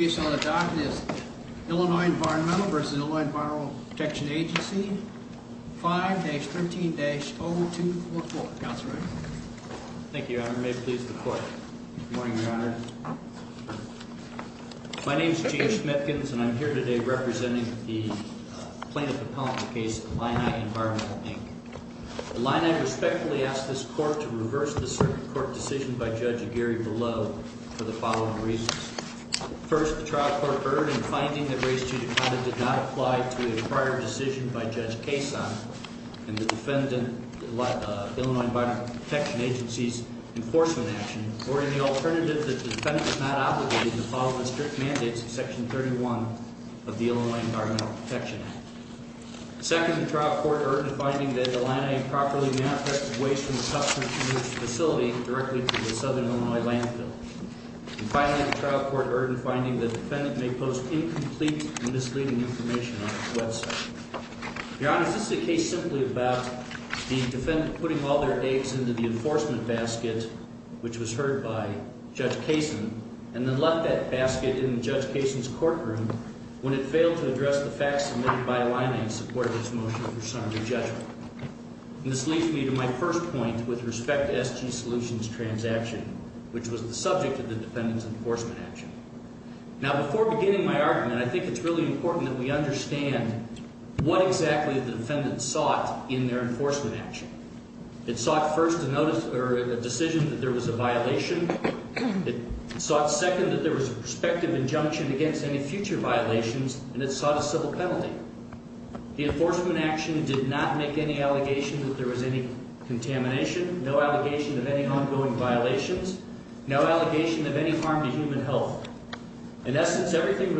Illinoi Environmental v. Ill. Environmental Protection Agency 5-13-0244 Thank you, Your Honor. May it please the Court. Good morning, Your Honor. My name is Gene Schmitkins and I'm here today representing the plaintiff appellant in the case Illini Environmental Inc. Illini respectfully asks this Court to reverse the circuit court decision by Judge Aguirre below for the following reasons. First, the trial court erred in finding that Race 2, Your Honor, did not apply to a prior decision by Judge Cason in the Illinoi Environmental Protection Agency's enforcement action or in the alternative that the defendant was not obligated to follow the strict mandates of Section 31 of the Illinoi Environmental Protection Act. Second, the trial court erred in finding that the landowner improperly manufactured waste from the Substance Abuse Facility directly to the southern Illinois landfill. And finally, the trial court erred in finding that the defendant may post incomplete and misleading information on its website. Your Honor, this is a case simply about the defendant putting all their eggs into the enforcement basket, which was heard by Judge Cason, and then left that basket in Judge Cason's courtroom when it failed to address the facts submitted by Illini in support of its motion for summary judgment. This leads me to my first point with respect to SG Solutions' transaction, which was the subject of the defendant's enforcement action. Now, before beginning my argument, I think it's really important that we understand what exactly the defendant sought in their enforcement action. It sought first a decision that there was a violation. It sought second that there was a prospective injunction against any future violations, and it sought a civil penalty. The enforcement action did not make any allegation that there was any contamination, no allegation of any ongoing violations, no allegation of any harm to human health. In essence, everything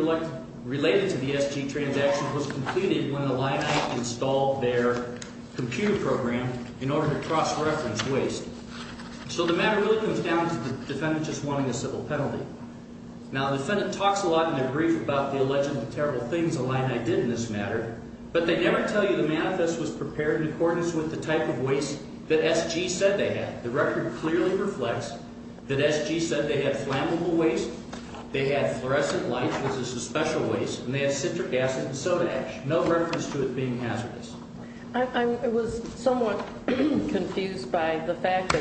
related to the SG transaction was completed when Illini installed their computer program in order to cross-reference waste. So the matter really comes down to the defendant just wanting a civil penalty. Now, the defendant talks a lot in their brief about the alleged terrible things Illini did in this matter, but they never tell you the manifest was prepared in accordance with the type of waste that SG said they had. The record clearly reflects that SG said they had flammable waste, they had fluorescent light, which is a special waste, and they had citric acid and soda ash, no reference to it being hazardous. I was somewhat confused by the fact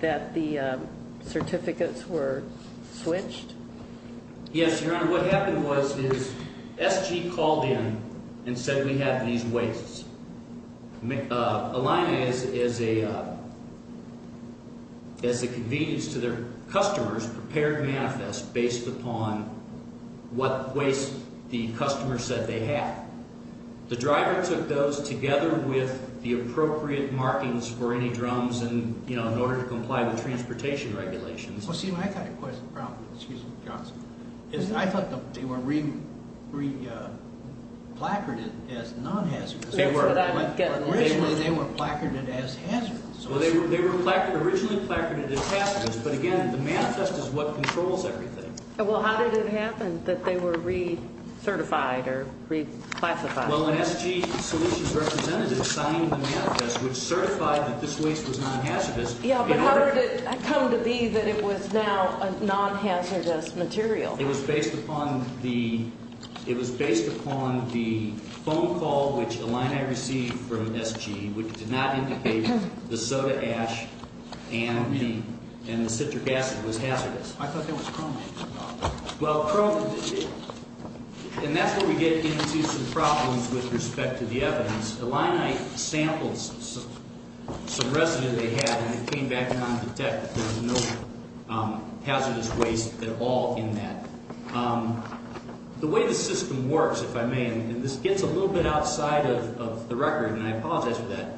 that the certificates were switched. Yes, Your Honor. What happened was SG called in and said we have these wastes. Illini, as a convenience to their customers, prepared manifest based upon what waste the customer said they had. The driver took those together with the appropriate markings for any drums in order to comply with transportation regulations. Well, see, I've got a question, excuse me, Johnson. I thought they were replacarded as non-hazardous. Originally, they were placarded as hazardous. Well, they were originally placarded as hazardous, but again, the manifest is what controls everything. Well, how did it happen that they were recertified or reclassified? Well, an SG Solutions representative signed the manifest, which certified that this waste was non-hazardous. Yeah, but how did it come to be that it was now a non-hazardous material? It was based upon the phone call, which Illini received from SG, which did not indicate the soda ash and the citric acid was hazardous. I thought that was chrome. Well, chrome, and that's where we get into some problems with respect to the evidence. Illini sampled some residue they had, and it came back non-detective. There was no hazardous waste at all in that. The way the system works, if I may, and this gets a little bit outside of the record, and I apologize for that,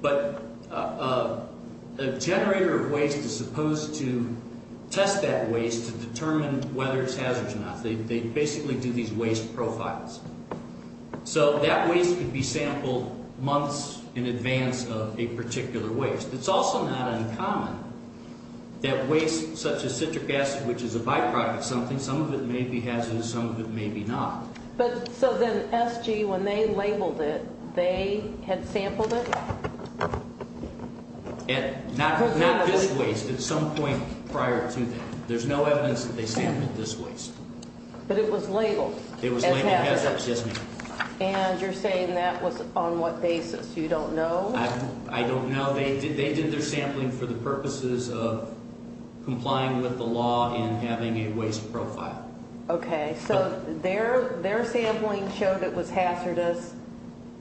but a generator of waste is supposed to test that waste to determine whether it's hazardous or not. They basically do these waste profiles. So that waste could be sampled months in advance of a particular waste. It's also not uncommon that waste such as citric acid, which is a byproduct of something, some of it may be hazardous, some of it may be not. So then SG, when they labeled it, they had sampled it? Not this waste. At some point prior to that. There's no evidence that they sampled this waste. But it was labeled? It was labeled hazardous, yes, ma'am. And you're saying that was on what basis? You don't know? I don't know. They did their sampling for the purposes of complying with the law and having a waste profile. Okay. So their sampling showed it was hazardous,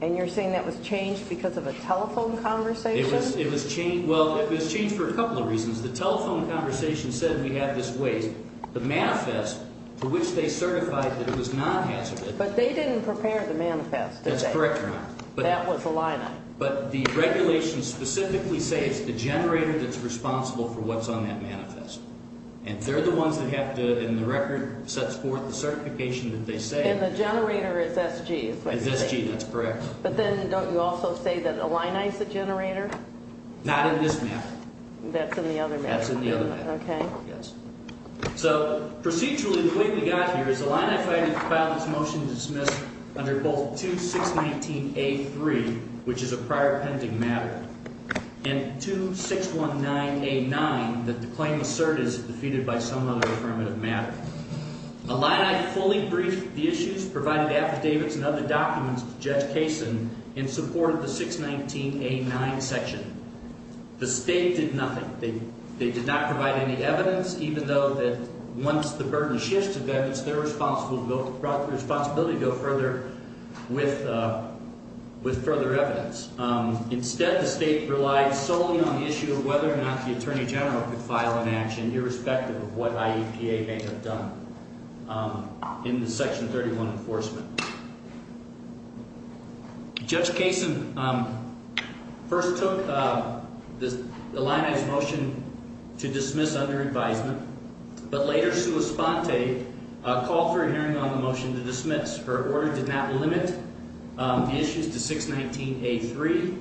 and you're saying that was changed because of a telephone conversation? It was changed. Well, it was changed for a couple of reasons. The telephone conversation said we have this waste. The manifest for which they certified that it was not hazardous. But they didn't prepare the manifest, did they? That's correct, Your Honor. That was the line item. But the regulations specifically say it's the generator that's responsible for what's on that manifest. And they're the ones that have to, and the record sets forth the certification that they say. And the generator is SG, is what they say. It's SG, that's correct. But then don't you also say that Illini's the generator? Not in this matter. That's in the other matter. That's in the other matter. Okay. Yes. So procedurally, the way we got here is Illini filed this motion to dismiss under both 2619A3, which is a prior pending matter, and 2619A9, that the claim asserted is defeated by some other affirmative matter. Illini fully briefed the issues, provided affidavits and other documents to Judge Kaysen, and supported the 619A9 section. The state did nothing. They did not provide any evidence, even though that once the burden shifts to them, it's their responsibility to go further with further evidence. Instead, the state relied solely on the issue of whether or not the Attorney General could file an action, irrespective of what IEPA may have done in the Section 31 enforcement. Judge Kaysen first took Illini's motion to dismiss under advisement, but later, called for a hearing on the motion to dismiss. Her order did not limit the issues to 619A3,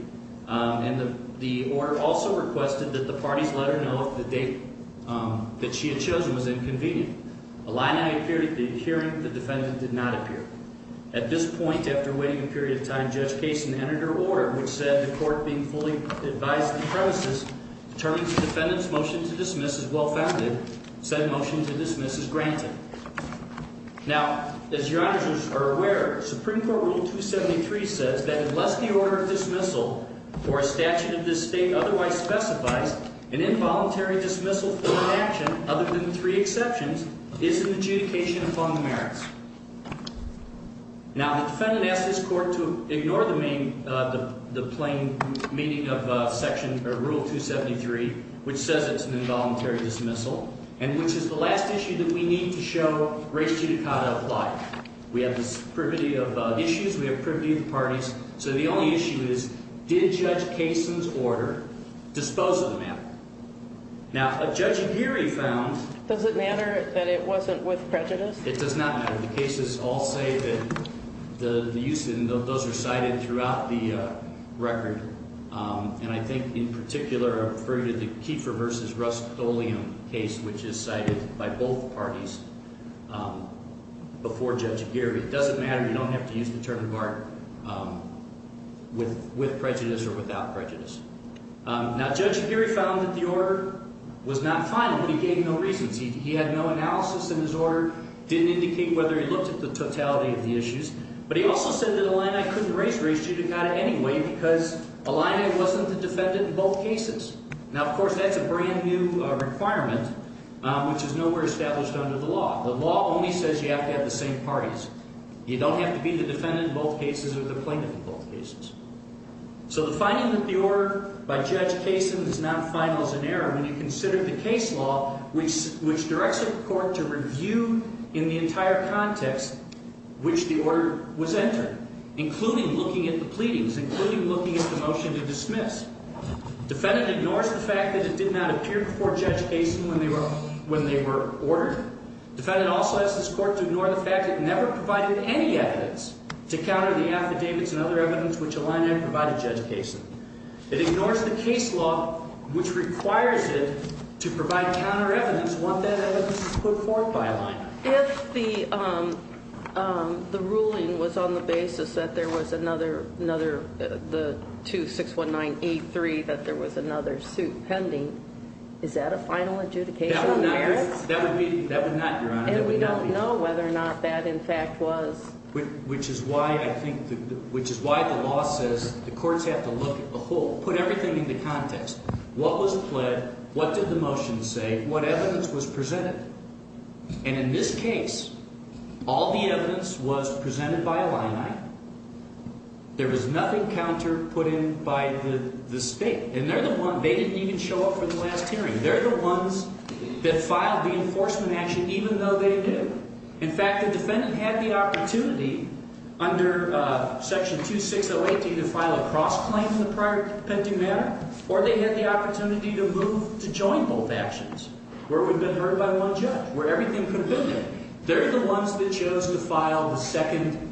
and the order also requested that the parties let her know if the date that she had chosen was inconvenient. Illini appeared at the hearing. The defendant did not appear. At this point, after waiting a period of time, Judge Kaysen entered her order, which said, the court being fully advised of the premises, determined the defendant's motion to dismiss is well-founded. Said motion to dismiss is granted. Now, as your honors are aware, Supreme Court Rule 273 says that unless the order of dismissal or a statute of this state otherwise specifies, an involuntary dismissal for an action, other than three exceptions, is an adjudication upon the merits. Now, the defendant asked his court to ignore the plain meaning of Rule 273, which says it's an involuntary dismissal, and which is the last issue that we need to show race judicata apply. We have this privity of issues. We have privity of the parties. So the only issue is, did Judge Kaysen's order dispose of the matter? Now, Judge Aguirre found— Does it matter that it wasn't with prejudice? It does not matter. The cases all say that those are cited throughout the record, and I think in particular I refer you to the Kiefer v. Rust-Oleum case, which is cited by both parties before Judge Aguirre. It doesn't matter. You don't have to use the term of art with prejudice or without prejudice. Now, Judge Aguirre found that the order was not final, but he gave no reasons. He had no analysis in his order, didn't indicate whether he looked at the totality of the issues, but he also said that Illini couldn't raise race judicata anyway because Illini wasn't the defendant in both cases. Now, of course, that's a brand-new requirement, which is nowhere established under the law. The law only says you have to have the same parties. You don't have to be the defendant in both cases or the plaintiff in both cases. So the finding that the order by Judge Kaysen is not final is an error. When you consider the case law, which directs a court to review in the entire context which the order was entered, including looking at the pleadings, including looking at the motion to dismiss, defendant ignores the fact that it did not appear before Judge Kaysen when they were ordered. Defendant also has this court to ignore the fact that it never provided any evidence to counter the affidavits and other evidence which Illini provided Judge Kaysen. It ignores the case law, which requires it to provide counter evidence, want that evidence put forth by Illini. If the ruling was on the basis that there was another, the 2619E3, that there was another suit pending, is that a final adjudication? That would not, Your Honor. And we don't know whether or not that, in fact, was. Which is why I think, which is why the law says the courts have to look at the whole, put everything into context. What was pled? What did the motion say? What evidence was presented? And in this case, all the evidence was presented by Illini. There was nothing counter put in by the state. And they're the one, they didn't even show up for the last hearing. They're the ones that filed the enforcement action even though they did. In fact, the defendant had the opportunity under Section 2608D to file a cross-claim in the prior pending matter, or they had the opportunity to move to join both actions, where it would have been heard by one judge, where everything could have been heard. They're the ones that chose to file the second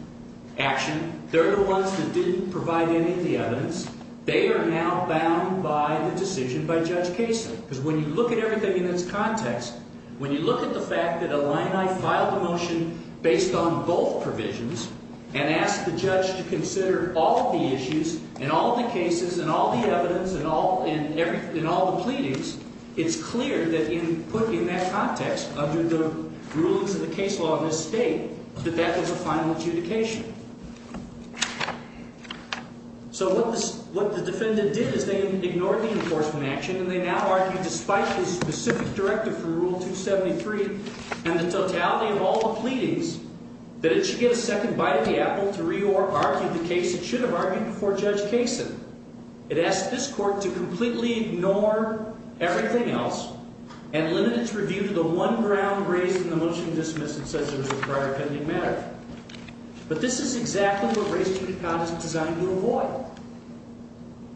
action. They're the ones that didn't provide any of the evidence. They are now bound by the decision by Judge Kaysen. Because when you look at everything in its context, when you look at the fact that Illini filed the motion based on both provisions, and asked the judge to consider all of the issues, and all of the cases, and all the evidence, and all the pleadings, it's clear that in putting that context under the rulings of the case law in this state, that that was a final adjudication. So what the defendant did is they ignored the enforcement action, and they now argue, despite the specific directive for Rule 273 and the totality of all the pleadings, that it should get a second bite of the apple to re-argue the case it should have argued before Judge Kaysen. It asked this court to completely ignore everything else, and limit its review to the one ground raised in the motion dismissed that says it was a prior pending matter. But this is exactly what race judicata is designed to avoid.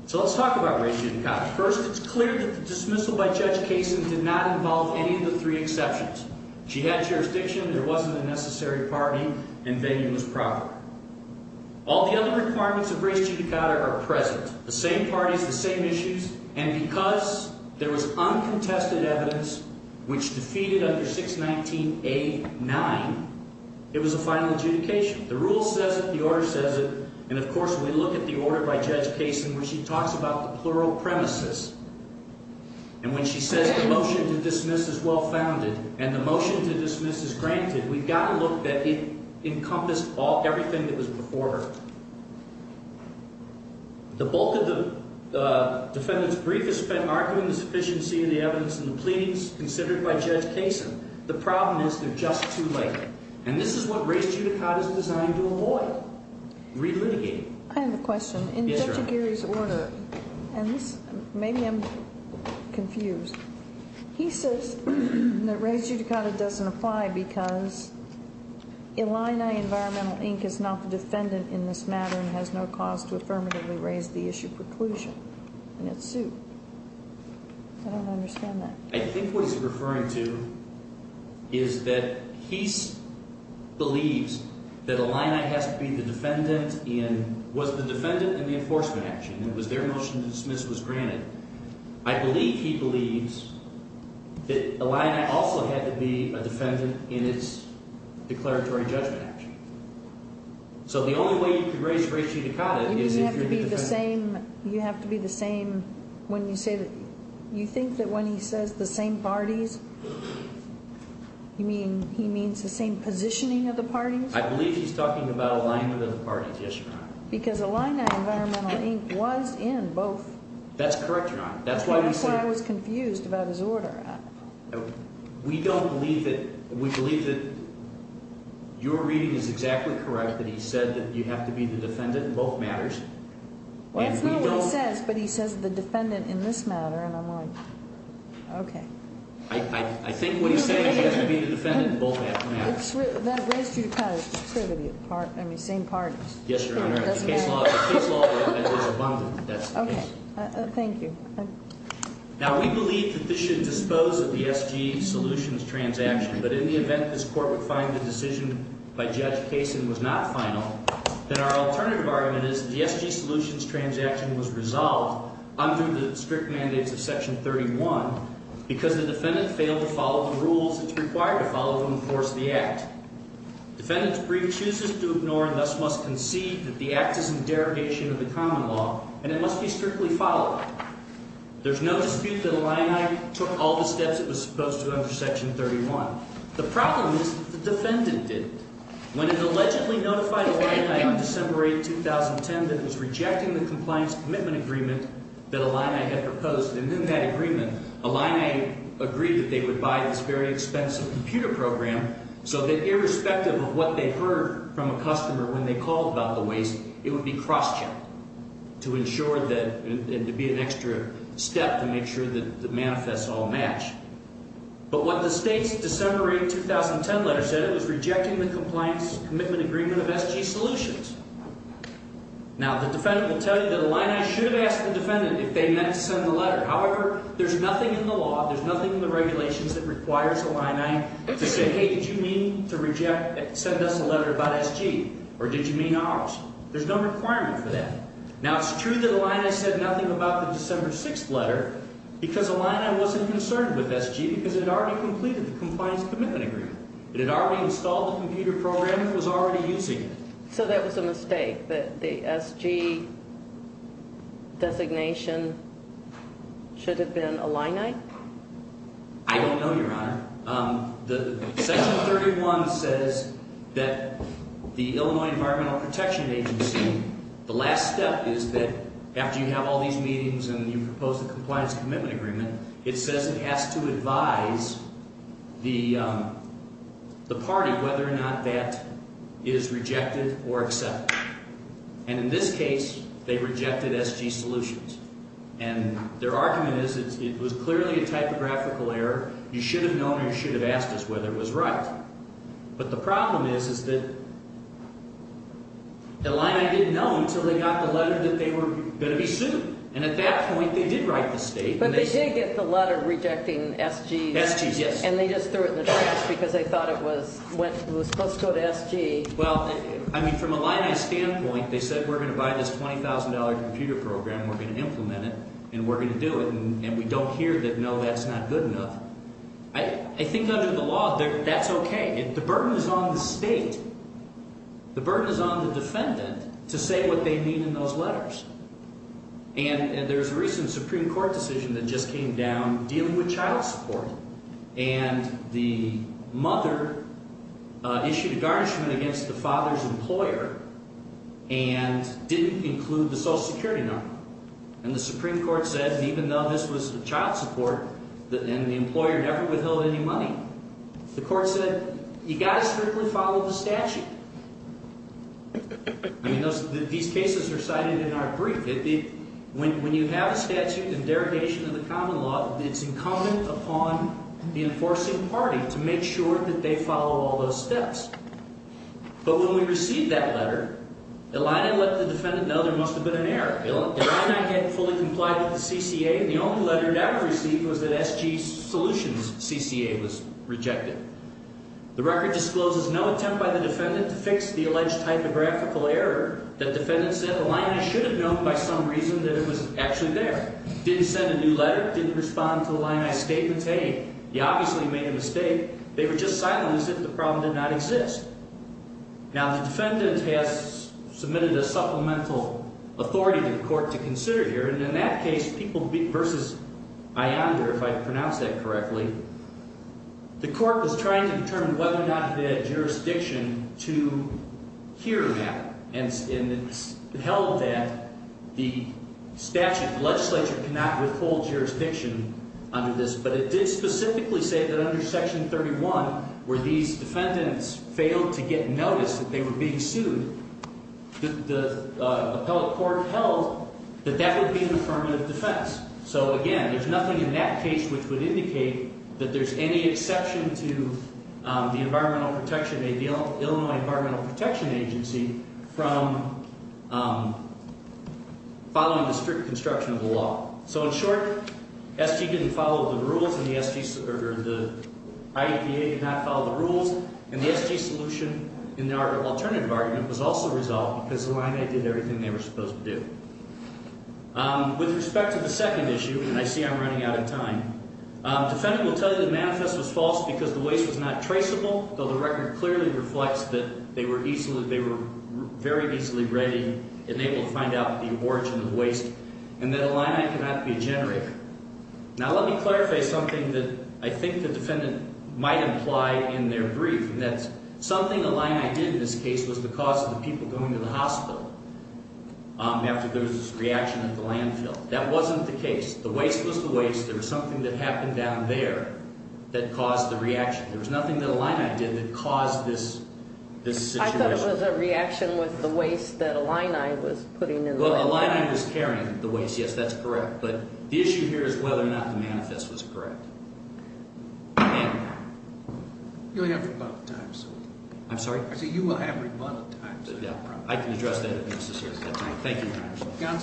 So let's talk about race judicata. First, it's clear that the dismissal by Judge Kaysen did not involve any of the three exceptions. She had jurisdiction, there wasn't a necessary party, and Vayner was proper. All the other requirements of race judicata are present. The same parties, the same issues, and because there was uncontested evidence, which defeated under 619A9, it was a final adjudication. The rule says it, the order says it, and of course when we look at the order by Judge Kaysen, where she talks about the plural premises, and when she says the motion to dismiss is well-founded, and the motion to dismiss is granted, we've got to look that it encompassed everything that was before her. The bulk of the defendant's brief is spent arguing the sufficiency of the evidence in the pleadings considered by Judge Kaysen. The problem is they're just too late. And this is what race judicata is designed to avoid, relitigate. I have a question. Yes, Your Honor. In Judge Aguirre's order, and maybe I'm confused, he says that race judicata doesn't apply because Illini Environmental, Inc. is not the defendant in this matter and has no cause to affirmatively raise the issue preclusion. And it's sued. I don't understand that. I think what he's referring to is that he believes that Illini has to be the defendant in, was the defendant in the enforcement action, and was their motion to dismiss was granted. I believe he believes that Illini also had to be a defendant in its declaratory judgment action. So the only way you can raise race judicata is if you're the defendant. You have to be the same when you say that – you think that when he says the same parties, you mean he means the same positioning of the parties? I believe he's talking about alignment of the parties, yes, Your Honor. Because Illini Environmental, Inc. was in both. That's correct, Your Honor. Okay, that's why I was confused about his order. We don't believe that – we believe that your reading is exactly correct, that he said that you have to be the defendant in both matters. Well, that's not what he says, but he says the defendant in this matter, and I'm like, okay. I think what he's saying is you have to be the defendant in both matters. That race judicata is just privity, I mean, same parties. Yes, Your Honor. Okay, thank you. Now, we believe that this should dispose of the SG solutions transaction, but in the event this court would find the decision by Judge Kasin was not final, then our alternative argument is that the SG solutions transaction was resolved under the strict mandates of Section 31 because the defendant failed to follow the rules that's required to follow to enforce the act. Defendant's brief chooses to ignore and thus must concede that the act is in derogation of the common law, and it must be strictly followed. There's no dispute that Illini took all the steps it was supposed to under Section 31. The problem is that the defendant didn't. When it allegedly notified Illini on December 8, 2010 that it was rejecting the compliance commitment agreement that Illini had proposed, and in that agreement Illini agreed that they would buy this very expensive computer program so that irrespective of what they heard from a customer when they called about the waste, it would be cross-checked to ensure that it would be an extra step to make sure that the manifests all match. But what the State's December 8, 2010 letter said, it was rejecting the compliance commitment agreement of SG solutions. Now, the defendant will tell you that Illini should have asked the defendant if they meant to send the letter. However, there's nothing in the law, there's nothing in the regulations that requires Illini to say, hey, did you mean to reject, send us a letter about SG, or did you mean ours? There's no requirement for that. Now, it's true that Illini said nothing about the December 6 letter because Illini wasn't concerned with SG because it had already completed the compliance commitment agreement. It had already installed the computer program and was already using it. So that was a mistake that the SG designation should have been Illini? I don't know, Your Honor. Section 31 says that the Illinois Environmental Protection Agency, the last step is that after you have all these meetings and you propose the compliance commitment agreement, it says it has to advise the party whether or not that is rejected or accepted. And in this case, they rejected SG solutions. And their argument is it was clearly a typographical error. You should have known or you should have asked us whether it was right. But the problem is, is that Illini didn't know until they got the letter that they were going to be sued. And at that point, they did write the State. But they did get the letter rejecting SG. SG, yes. And they just threw it in the trash because they thought it was supposed to go to SG. Well, I mean from Illini's standpoint, they said we're going to buy this $20,000 computer program, we're going to implement it, and we're going to do it. And we don't hear that no, that's not good enough. I think under the law, that's okay. The burden is on the State. The burden is on the defendant to say what they mean in those letters. And there's a recent Supreme Court decision that just came down dealing with child support. And the mother issued a garnishment against the father's employer and didn't include the Social Security number. And the Supreme Court said even though this was child support and the employer never withheld any money, the court said you've got to strictly follow the statute. I mean, these cases are cited in our brief. When you have a statute and derogation of the common law, it's incumbent upon the enforcing party to make sure that they follow all those steps. But when we received that letter, Illini let the defendant know there must have been an error. Illini hadn't fully complied with the CCA, and the only letter it ever received was that SG's solutions CCA was rejected. The record discloses no attempt by the defendant to fix the alleged typographical error. That defendant said Illini should have known by some reason that it was actually there. Didn't send a new letter, didn't respond to Illini's statements. Hey, he obviously made a mistake. They were just silent as if the problem did not exist. Now, the defendant has submitted a supplemental authority to the court to consider here. And in that case, people versus Ionder, if I pronounce that correctly, the court was trying to determine whether or not it had jurisdiction to hear that. And it held that the statute, the legislature, cannot withhold jurisdiction under this. But it did specifically say that under Section 31, where these defendants failed to get notice that they were being sued, the appellate court held that that would be an affirmative defense. So, again, there's nothing in that case which would indicate that there's any exception to the Environmental Protection, the Illinois Environmental Protection Agency, from following the strict construction of the law. So, in short, SG didn't follow the rules, and the SG, or the IEPA did not follow the rules, and the SG solution in our alternative argument was also resolved because Illini did everything they were supposed to do. With respect to the second issue, and I see I'm running out of time, defendant will tell you the manifest was false because the waste was not traceable, though the record clearly reflects that they were very easily ready and able to find out the origin of the waste, and that Illini cannot be a generator. Now, let me clarify something that I think the defendant might imply in their brief, and that's something Illini did in this case was because of the people going to the hospital after there was this reaction at the landfill. That wasn't the case. The waste was the waste. There was something that happened down there that caused the reaction. There was nothing that Illini did that caused this situation. I thought it was a reaction with the waste that Illini was putting in the landfill. Illini was carrying the waste. Yes, that's correct. But the issue here is whether or not the manifest was correct. You'll have rebuttal time, sir. I'm sorry? I said you will have rebuttal time, sir. I can address that if necessary at that time. Thank you, Your Honor.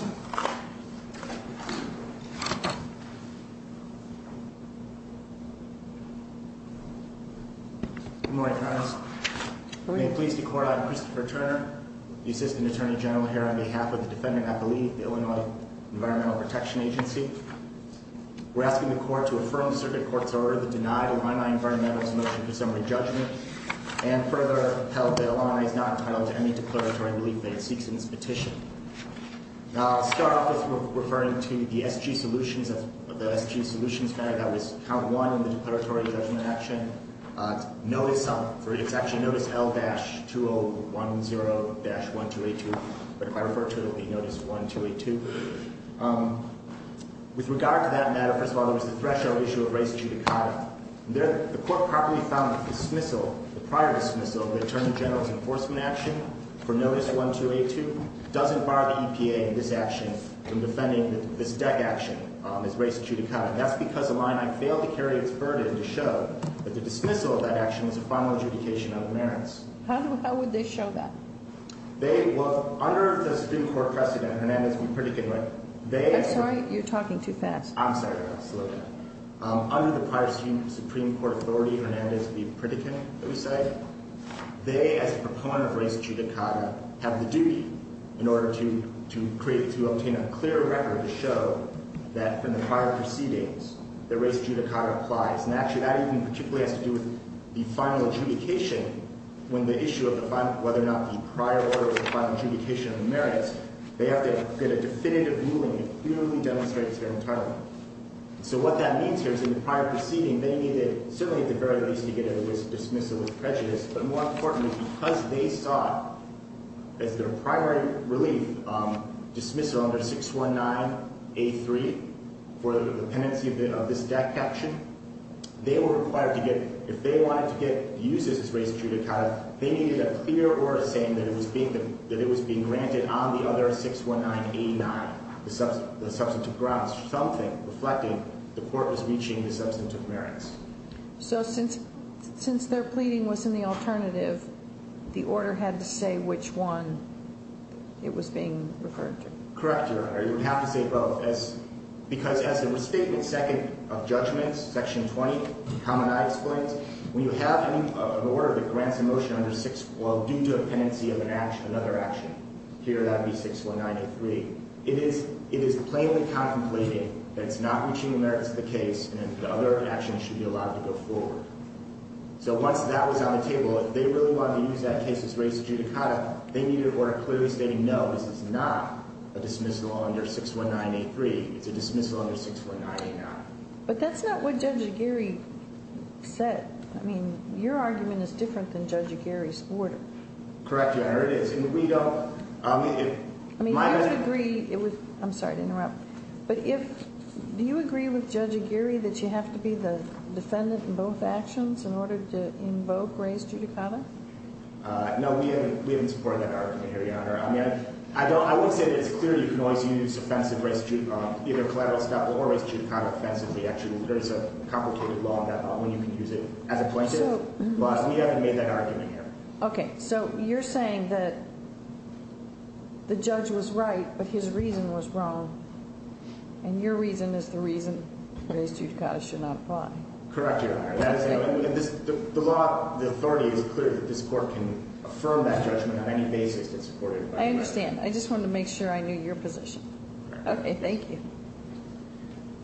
Gonsal. Good morning, Your Honor. Good morning. May it please the Court, I'm Christopher Turner, the Assistant Attorney General here on behalf of the defendant, I believe, the Illinois Environmental Protection Agency. We're asking the Court to affirm the circuit court's order that denied Illini Environmental's motion for summary judgment and further upheld that Illini is not entitled to any declaratory relief that it seeks in this petition. Now, I'll start off with referring to the SG solutions matter that was count one in the declaratory judgment action. It's actually notice L-2010-1282. But if I refer to it, it will be notice 1282. With regard to that matter, first of all, there was the threshold issue of res judicata. The Court properly found the dismissal, the prior dismissal of the Attorney General's enforcement action for notice 1282 doesn't bar the EPA in this action from defending this deck action as res judicata. That's because the line, I failed to carry its burden to show that the dismissal of that action is a formal adjudication of merits. How would they show that? They, well, under the Supreme Court precedent, Hernandez v. Pritikin, they I'm sorry, you're talking too fast. I'm sorry, I'll slow down. Under the prior Supreme Court authority, Hernandez v. Pritikin, let me say, they, as a proponent of res judicata, have the duty in order to obtain a clear record to show that from the prior proceedings, the res judicata applies. And actually, that even particularly has to do with the final adjudication when the issue of whether or not the prior order was a final adjudication of merits, they have to get a definitive ruling that clearly demonstrates their entitlement. So what that means here is in the prior proceeding, they needed, certainly at the very least, to get a dismissal with prejudice. But more importantly, because they saw as their primary relief dismissal under 619A3 for the pendency of this death caption, they were required to get, if they wanted to get uses as res judicata, they needed a clear order saying that it was being granted on the other 619A9, the substantive grounds, something reflecting the court was reaching the substantive merits. So since their pleading was in the alternative, the order had to say which one it was being referred to. Correct, Your Honor. You would have to say both. Because as it was stated in second of judgments, section 20, the common eye explains, when you have an order that grants a motion under 6, well, due to a pendency of another action, here that would be 619A3, it is plainly contemplating that it's not reaching the merits of the case and that the other action should be allowed to go forward. So once that was on the table, if they really wanted to use that case as res judicata, they needed an order clearly stating no, this is not a dismissal under 619A3, it's a dismissal under 619A9. But that's not what Judge Aguirre said. I mean, your argument is different than Judge Aguirre's order. Correct, Your Honor, it is. I mean, do you agree with Judge Aguirre that you have to be the defendant in both actions in order to invoke res judicata? No, we haven't supported that argument here, Your Honor. I mean, I would say that it's clear you can always use offensive res judicata, either collateral estoppel or res judicata offensively. Actually, there is a complicated law in that law when you can use it as a plaintiff. But we haven't made that argument here. Okay, so you're saying that the judge was right, but his reason was wrong, and your reason is the reason res judicata should not apply. Correct, Your Honor. The law, the authority is clear that this court can affirm that judgment on any basis that's supported by the law. I understand. I just wanted to make sure I knew your position. Okay, thank you.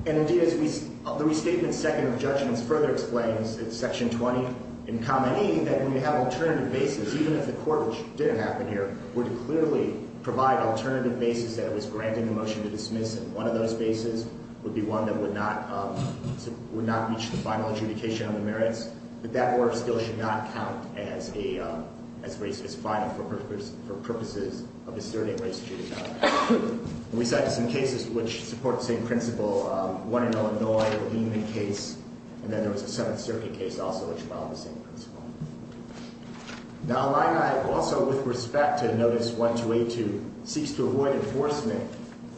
And, indeed, the restatement second of judgments further explains in Section 20 in Common E that when you have alternative bases, even if the court, which didn't happen here, would clearly provide alternative bases that it was granting a motion to dismiss, and one of those bases would be one that would not reach the final adjudication on the merits, that that order still should not count as final for purposes of asserting res judicata. We cited some cases which support the same principle. One in Illinois, the Lehman case, and then there was a Seventh Circuit case also which followed the same principle. Now, Illini also, with respect to Notice 1282, seeks to avoid enforcement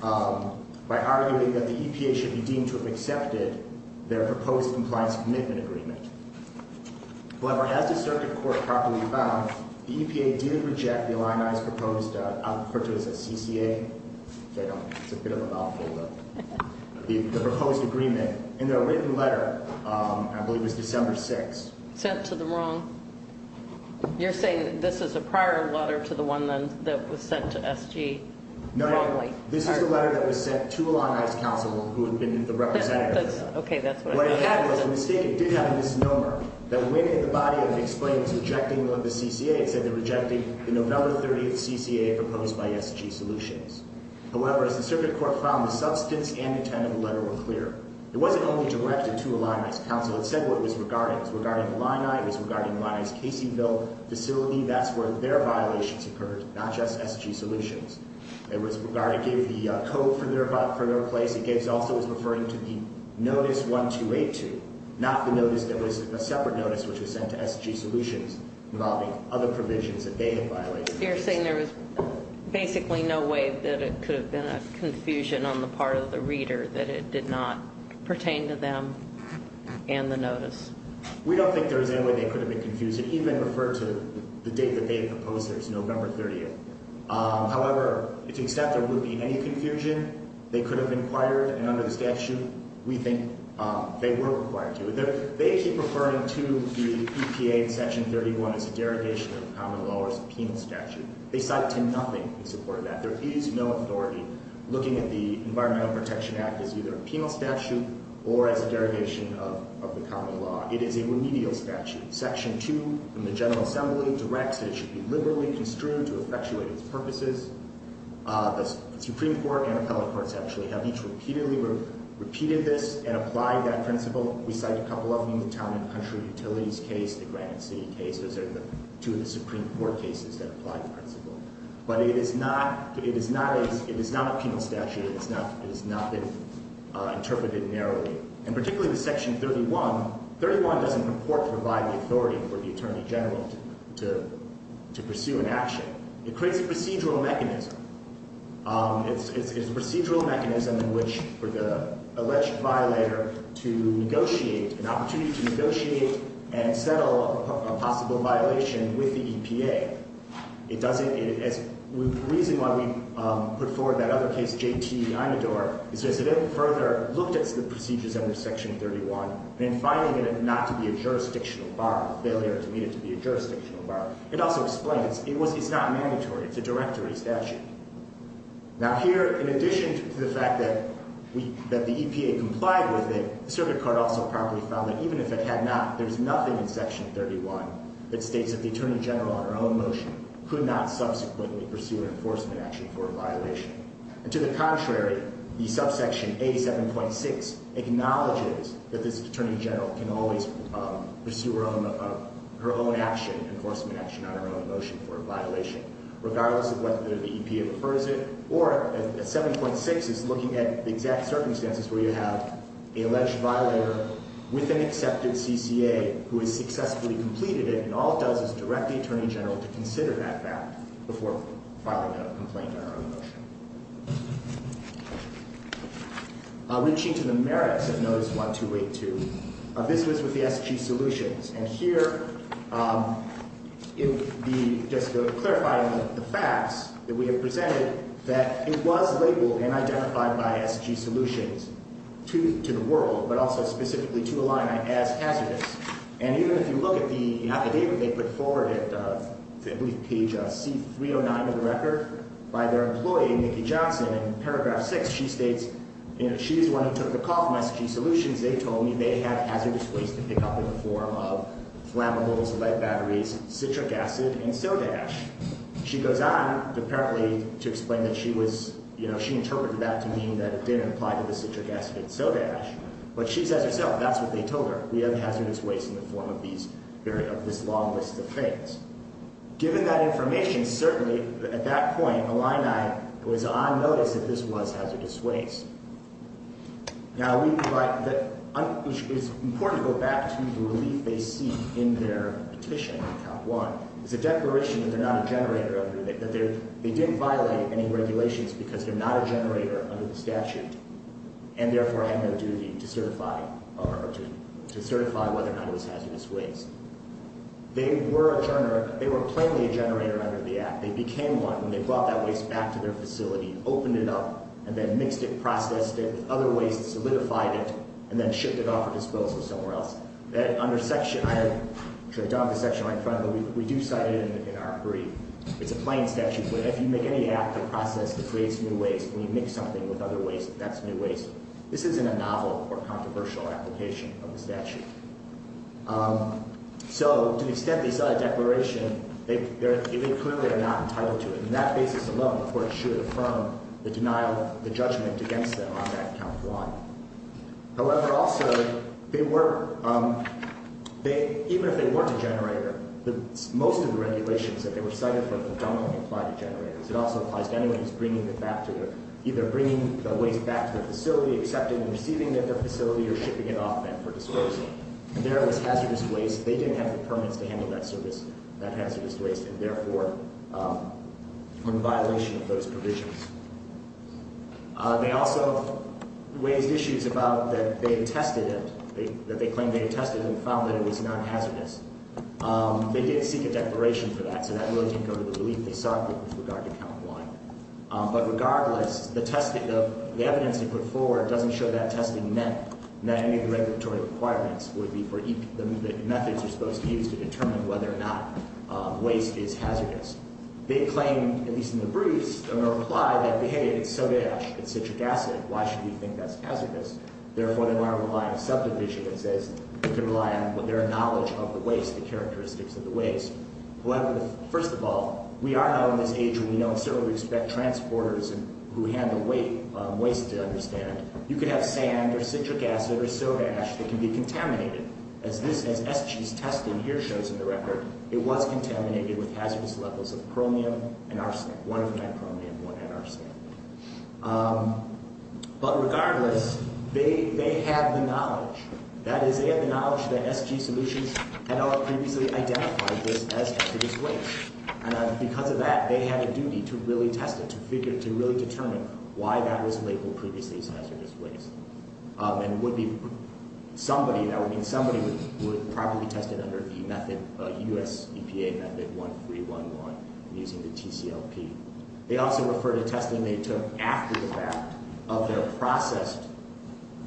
by arguing that the EPA should be deemed to have accepted their proposed compliance commitment agreement. However, as the circuit court properly found, the EPA did reject the Illini's proposed, I'll refer to it as a CCA, which I don't think is a bit of a mouthful, the proposed agreement in their written letter, I believe it was December 6th. Sent to the wrong, you're saying this is a prior letter to the one that was sent to SG? No, this is the letter that was sent to Illini's counsel who had been the representative. Okay, that's what I thought. And what it had was a mistake. It did have a misnomer that when in the body of it explains rejecting the CCA, it said they rejected the November 30th CCA proposed by SG Solutions. However, as the circuit court found, the substance and intent of the letter were clear. It wasn't only directed to Illini's counsel. It said what it was regarding. It was regarding Illini. It was regarding Illini's Caseyville facility. That's where their violations occurred, not just SG Solutions. It gave the code for their place. It also was referring to the notice 1282, not the notice that was a separate notice, which was sent to SG Solutions involving other provisions that they had violated. You're saying there was basically no way that it could have been a confusion on the part of the reader, that it did not pertain to them and the notice? We don't think there was any way they could have been confused. It even referred to the date that they had proposed it, it was November 30th. However, to the extent there would be any confusion, they could have inquired, and under the statute, we think they were required to. They keep referring to the EPA in Section 31 as a derogation of the common law or a penal statute. They cite to nothing in support of that. There is no authority looking at the Environmental Protection Act as either a penal statute or as a derogation of the common law. It is a remedial statute. Section 2 from the General Assembly directs that it should be liberally construed to effectuate its purposes. The Supreme Court and appellate courts actually have each repeatedly repeated this and applied that principle. We cite a couple of them, the Town and Country Utilities case, the Granite City case. Those are the two of the Supreme Court cases that apply the principle. But it is not a penal statute. It has not been interpreted narrowly, and particularly the Section 31. 31 doesn't report to provide the authority for the Attorney General to pursue an action. It creates a procedural mechanism. It's a procedural mechanism in which for the alleged violator to negotiate, an opportunity to negotiate and settle a possible violation with the EPA. The reason why we put forward that other case, J.T. Imador, is to further look at the procedures under Section 31 and finding it not to be a jurisdictional bar, failure to meet it to be a jurisdictional bar. It also explains it's not mandatory. It's a directory statute. Now here, in addition to the fact that the EPA complied with it, the Circuit Court also probably found that even if it had not, there's nothing in Section 31 that states that the Attorney General on her own motion could not subsequently pursue an enforcement action for a violation. And to the contrary, the subsection 87.6 acknowledges that this Attorney General can always pursue her own action, enforcement action on her own motion for a violation, regardless of whether the EPA prefers it. Or 7.6 is looking at the exact circumstances where you have an alleged violator with an accepted CCA who has successfully completed it, and all it does is direct the Attorney General to consider that fact before filing a complaint on her own motion. Reaching to the merits of Notice 1282, this was with the SG Solutions. And here, just clarifying the facts that we have presented, that it was labeled and identified by SG Solutions to the world, but also specifically to Illini as hazardous. And even if you look at the affidavit they put forward at, I believe, page C309 of the record, by their employee, Nikki Johnson, in paragraph 6, she states, you know, she is the one who took the call from SG Solutions. They told me they had hazardous waste to pick up in the form of flammables, lead batteries, citric acid, and soda ash. She goes on, apparently, to explain that she was, you know, she interpreted that to mean that it didn't apply to the citric acid and soda ash. But she says herself, that's what they told her. We have hazardous waste in the form of these very, of this long list of things. Given that information, certainly, at that point, Illini was on notice that this was hazardous waste. Now, we provide, it's important to go back to the relief they seek in their petition, Act 1. It's a declaration that they're not a generator, that they didn't violate any regulations because they're not a generator under the statute and therefore have no duty to certify, or to certify whether or not it was hazardous waste. They were a generator, they were plainly a generator under the Act. They became one when they brought that waste back to their facility, opened it up, and then mixed it, processed it with other wastes, solidified it, and then shipped it off for disposal somewhere else. That under section, I don't have the section right in front of me, but we do cite it in our brief. It's a plain statute, but if you make any act or process that creates new waste and you mix something with other waste, that's new waste. This isn't a novel or controversial application of the statute. So, to the extent they cite a declaration, they clearly are not entitled to it. And that basis alone, of course, should affirm the denial of the judgment against them on Act 1. However, also, they were, even if they weren't a generator, most of the regulations that they were cited for predominantly applied to generators. It also applies to anyone who's bringing it back to their, either bringing the waste back to the facility, accepting and receiving it at the facility, or shipping it off then for disposal. And there it was hazardous waste. They didn't have the permits to handle that service, that hazardous waste, and therefore were in violation of those provisions. They also raised issues about that they had tested it, that they claimed they had tested it and found that it was not hazardous. They did seek a declaration for that, so that really didn't go to the belief they sought with regard to Count 1. But regardless, the evidence they put forward doesn't show that testing met any of the regulatory requirements, would be for the methods they're supposed to use to determine whether or not waste is hazardous. They claim, at least in the briefs, in a reply, that, hey, it's soda ash, it's citric acid, why should we think that's hazardous? Therefore, they're not relying on subdivisions. They can rely on their knowledge of the waste, the characteristics of the waste. However, first of all, we are now in this age where we know, and certainly we expect transporters who handle waste to understand, you could have sand or citric acid or soda ash that can be contaminated. As SG's testing here shows in the record, it was contaminated with hazardous levels of chromium and arsenic, one of them had chromium, one had arsenic. But regardless, they have the knowledge. That is, they have the knowledge that SG Solutions had not previously identified this as hazardous waste. And because of that, they had a duty to really test it, to figure, to really determine why that was labeled previously as hazardous waste. And it would be, somebody, that would mean somebody would probably test it under the method, U.S. EPA method 1311, using the TCLP. They also refer to testing they took after the fact of their processed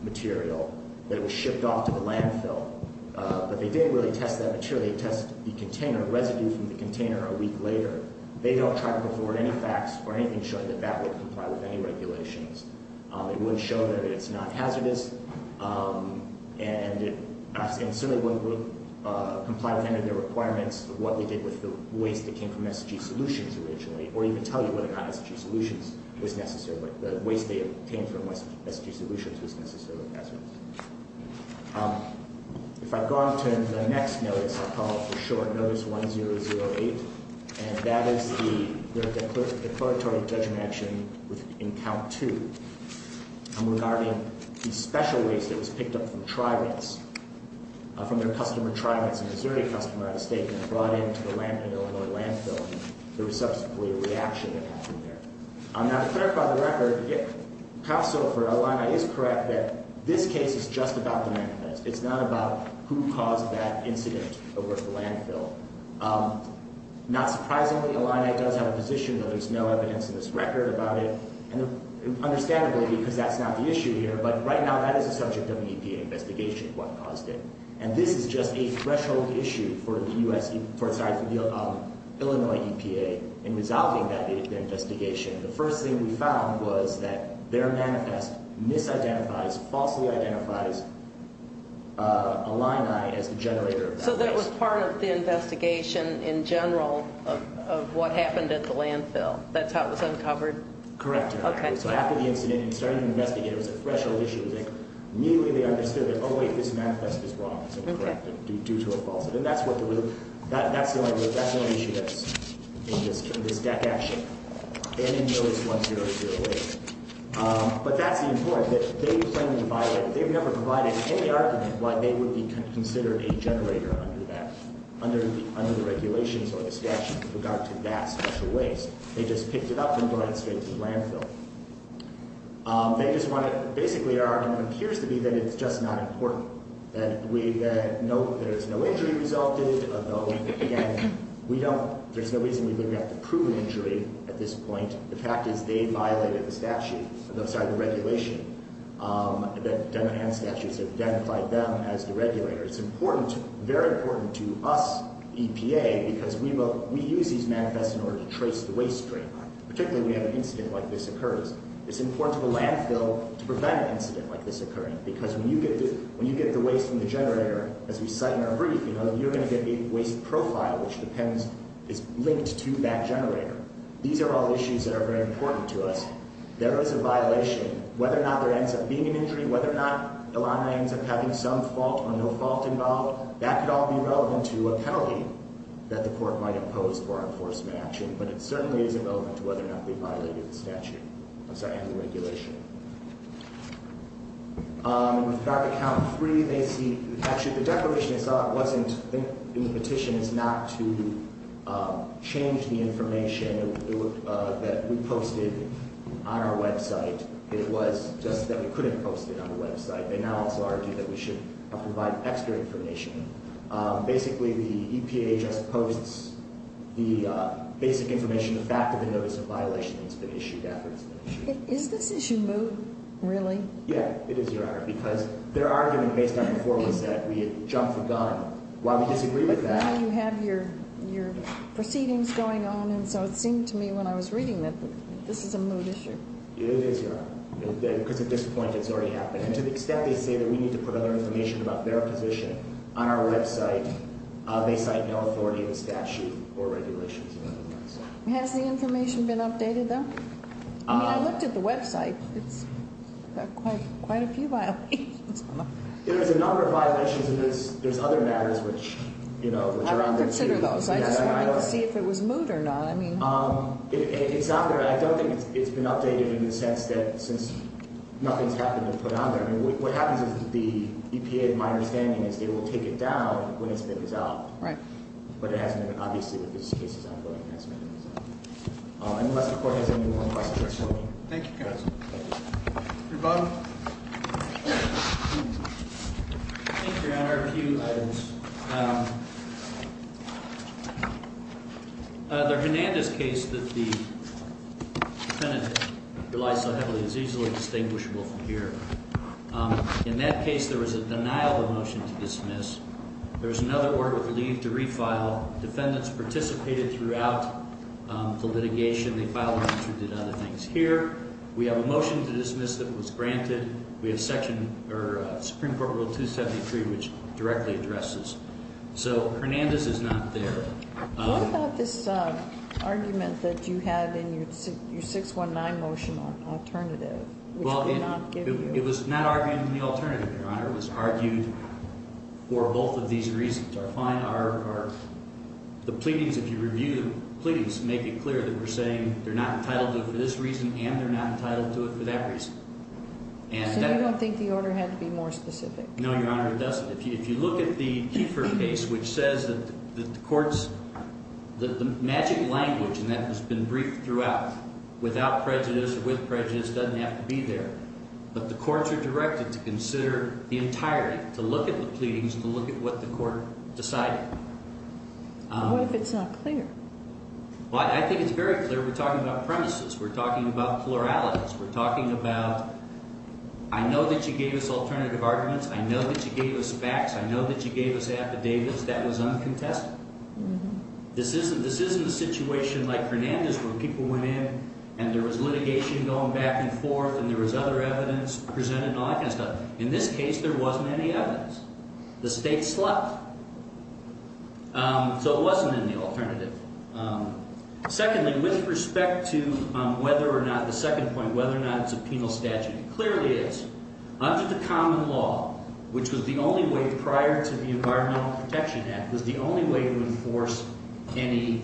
material that was shipped off to the landfill. But they didn't really test that material. They test the container, residue from the container a week later. They don't try to afford any facts or anything showing that that would comply with any regulations. It wouldn't show that it's not hazardous, and certainly wouldn't comply with any of their requirements of what they did with the waste that came from SG Solutions originally, or even tell you whether or not SG Solutions was necessarily, the waste they obtained from SG Solutions was necessarily hazardous. If I go on to the next notice, I'll call it for short Notice 1008, and that is the declaratory judgment action in Count 2. And regarding the special waste that was picked up from tributes, from their customer tributes, a Missouri customer out of state, and brought into the Illinois landfill, there was subsequently a reaction that happened there. Now, to clarify the record, counsel for Illini is correct that this case is just about the manifest. It's not about who caused that incident over at the landfill. Not surprisingly, Illini does have a position that there's no evidence in this record about it. And understandably, because that's not the issue here, but right now that is the subject of the EPA investigation, what caused it. And this is just a threshold issue for the Illinois EPA in resolving that investigation. The first thing we found was that their manifest misidentifies, falsely identifies Illini as the generator of that waste. So that was part of the investigation in general of what happened at the landfill. That's how it was uncovered? Correct. Okay. So after the incident, and starting to investigate, it was a threshold issue. Immediately they understood that, oh, wait, this manifest is wrong. So correct it due to a falsehood. And that's what the real, that's the only real, that's the only issue that's in this deck action. And in Notice 1008. But that's the important, that they claim to have violated, they've never provided any argument why they would be considered a generator under that, under the regulations or the statute with regard to that special waste. They just picked it up and brought it straight to the landfill. They just want to, basically our argument appears to be that it's just not important. That we, that no, there's no injury resulted, although, again, we don't, there's no reason we wouldn't have to prove injury at this point. The fact is they violated the statute, I'm sorry, the regulation. That Demohan statutes have identified them as the regulator. It's important, very important to us, EPA, because we use these manifests in order to trace the waste stream. Particularly when we have an incident like this occurs. It's important to the landfill to prevent an incident like this occurring. Because when you get the waste from the generator, as we cite in our brief, you're going to get a waste profile which depends, is linked to that generator. These are all issues that are very important to us. There is a violation. Whether or not there ends up being an injury, whether or not the line ends up having some fault or no fault involved, that could all be relevant to a penalty that the court might impose for our enforcement action. But it certainly isn't relevant to whether or not they violated the statute. I'm sorry, under the regulation. With regard to count three, they see, actually the declaration they saw wasn't in the petition. The intention is not to change the information that we posted on our website. It was just that we couldn't post it on the website. They now also argue that we should provide extra information. Basically, the EPA just posts the basic information, the fact of the notice of violation that's been issued after it's been issued. Is this issue moot, really? Yeah, it is, Your Honor. Because their argument based on before was that we had jumped the gun. While we disagree with that. Now you have your proceedings going on, and so it seemed to me when I was reading that this is a moot issue. It is, Your Honor. Because at this point, it's already happened. And to the extent they say that we need to put other information about their position on our website, they cite no authority in the statute or regulations. Has the information been updated, though? I mean, I looked at the website. It's got quite a few violations. There's a number of violations, and there's other matters which are on there, too. I didn't consider those. I just wanted to see if it was moot or not. It's on there. I don't think it's been updated in the sense that since nothing's happened to put it on there. I mean, what happens is the EPA, in my understanding, is they will take it down when it's been resolved. Right. But it hasn't been. Obviously, this case is ongoing. Unless the court has any more questions for me. Thank you, counsel. Thank you. Rebuttal. Thank you, Your Honor. A few items. The Hernandez case that the defendant relies so heavily is easily distinguishable from here. In that case, there was a denial of motion to dismiss. There was another order of leave to refile. Defendants participated throughout the litigation. They filed one or two other things. Here, we have a motion to dismiss that was granted. We have Supreme Court Rule 273, which directly addresses. So, Hernandez is not there. What about this argument that you had in your 619 motion alternative? Well, it was not argued in the alternative, Your Honor. It was argued for both of these reasons. The pleadings, if you review the pleadings, make it clear that we're saying they're not entitled to it for this reason and they're not entitled to it for that reason. So, you don't think the order had to be more specific? No, Your Honor, it doesn't. If you look at the Kiefer case, which says that the courts, the magic language, and that has been briefed throughout, without prejudice or with prejudice, doesn't have to be there. But the courts are directed to consider the entirety, to look at the pleadings, to look at what the court decided. What if it's not clear? Well, I think it's very clear. We're talking about premises. We're talking about pluralities. We're talking about, I know that you gave us alternative arguments. I know that you gave us facts. I know that you gave us affidavits. That was uncontested. This isn't a situation like Hernandez where people went in and there was litigation going back and forth and there was other evidence presented and all that kind of stuff. In this case, there wasn't any evidence. The state slept. So, it wasn't in the alternative. Secondly, with respect to whether or not, the second point, whether or not it's a penal statute, it clearly is. Under the common law, which was the only way prior to the Environmental Protection Act, was the only way to enforce any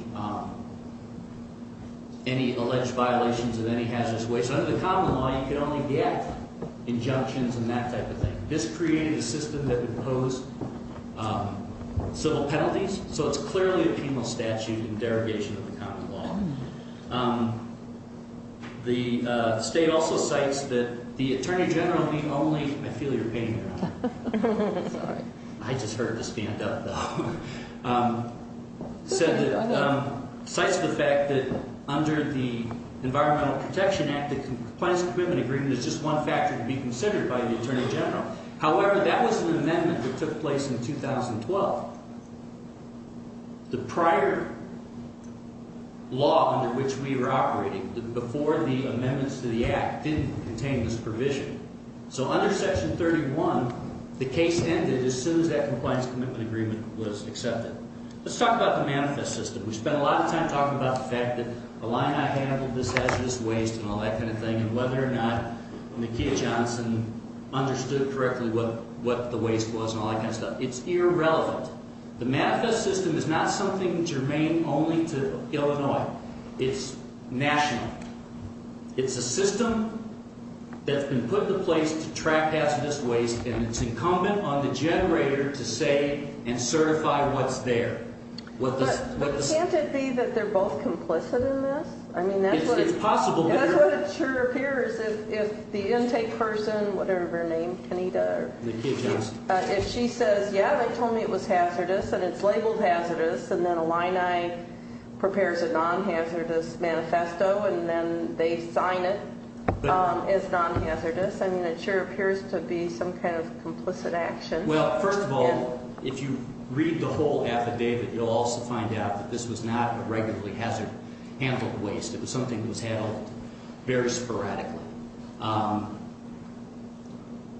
alleged violations of any hazardous waste. Under the common law, you could only get injunctions and that type of thing. This created a system that imposed civil penalties, so it's clearly a penal statute in derogation of the common law. The state also cites that the Attorney General, the only, I feel you're painting me wrong. Sorry. I just heard the stand up, though. Cites the fact that under the Environmental Protection Act, the Compliance and Commitment Agreement is just one factor to be considered by the Attorney General. However, that was an amendment that took place in 2012. The prior law under which we were operating, before the amendments to the Act, didn't contain this provision. So, under Section 31, the case ended as soon as that Compliance and Commitment Agreement was accepted. Let's talk about the manifest system. We spend a lot of time talking about the fact that the line I handled, this hazardous waste and all that kind of thing, and whether or not Nakia Johnson understood correctly what the waste was and all that kind of stuff. It's irrelevant. The manifest system is not something germane only to Illinois. It's national. It's a system that's been put in place to track hazardous waste, and it's incumbent on the generator to say and certify what's there. But can't it be that they're both complicit in this? It's possible. That's what it sure appears if the intake person, whatever her name, Kanita, if she says, yeah, they told me it was hazardous, and it's labeled hazardous, and then Illini prepares a non-hazardous manifesto, and then they sign it as non-hazardous. I mean, it sure appears to be some kind of complicit action. Well, first of all, if you read the whole affidavit, you'll also find out that this was not a regularly hazard-handled waste. It was something that was handled very sporadically.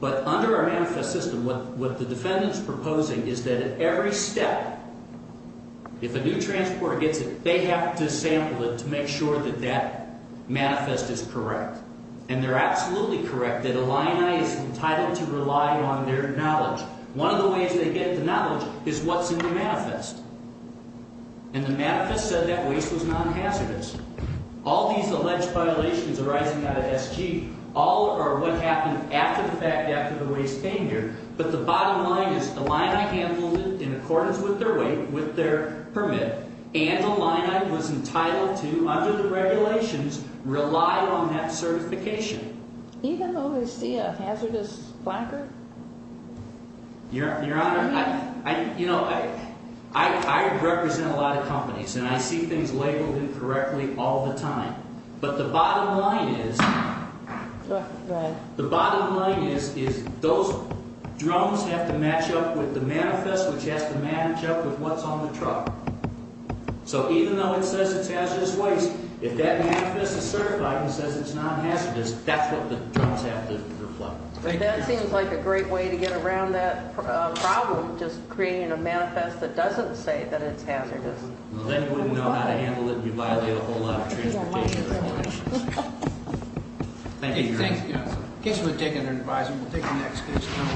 But under our manifest system, what the defendant's proposing is that at every step, if a new transporter gets it, they have to sample it to make sure that that manifest is correct, and they're absolutely correct that Illini is entitled to rely on their knowledge. One of the ways they get the knowledge is what's in the manifest, and the manifest said that waste was non-hazardous. All these alleged violations arising out of SG, all are what happened after the fact, after the waste came here, but the bottom line is Illini handled it in accordance with their weight, with their permit, and Illini was entitled to, under the regulations, rely on that certification. Even though they see a hazardous flanker? Your Honor, I represent a lot of companies, and I see things labeled incorrectly all the time, but the bottom line is those drones have to match up with the manifest, which has to match up with what's on the truck. So even though it says it's hazardous waste, if that manifest is certified and says it's non-hazardous, that's what the drones have to reflect. But that seems like a great way to get around that problem, just creating a manifest that doesn't say that it's hazardous. Well, then you wouldn't know how to handle it, and you'd violate a whole lot of transportation regulations. Thank you, Your Honor. In case you want to take it under advisement, we'll take the next case.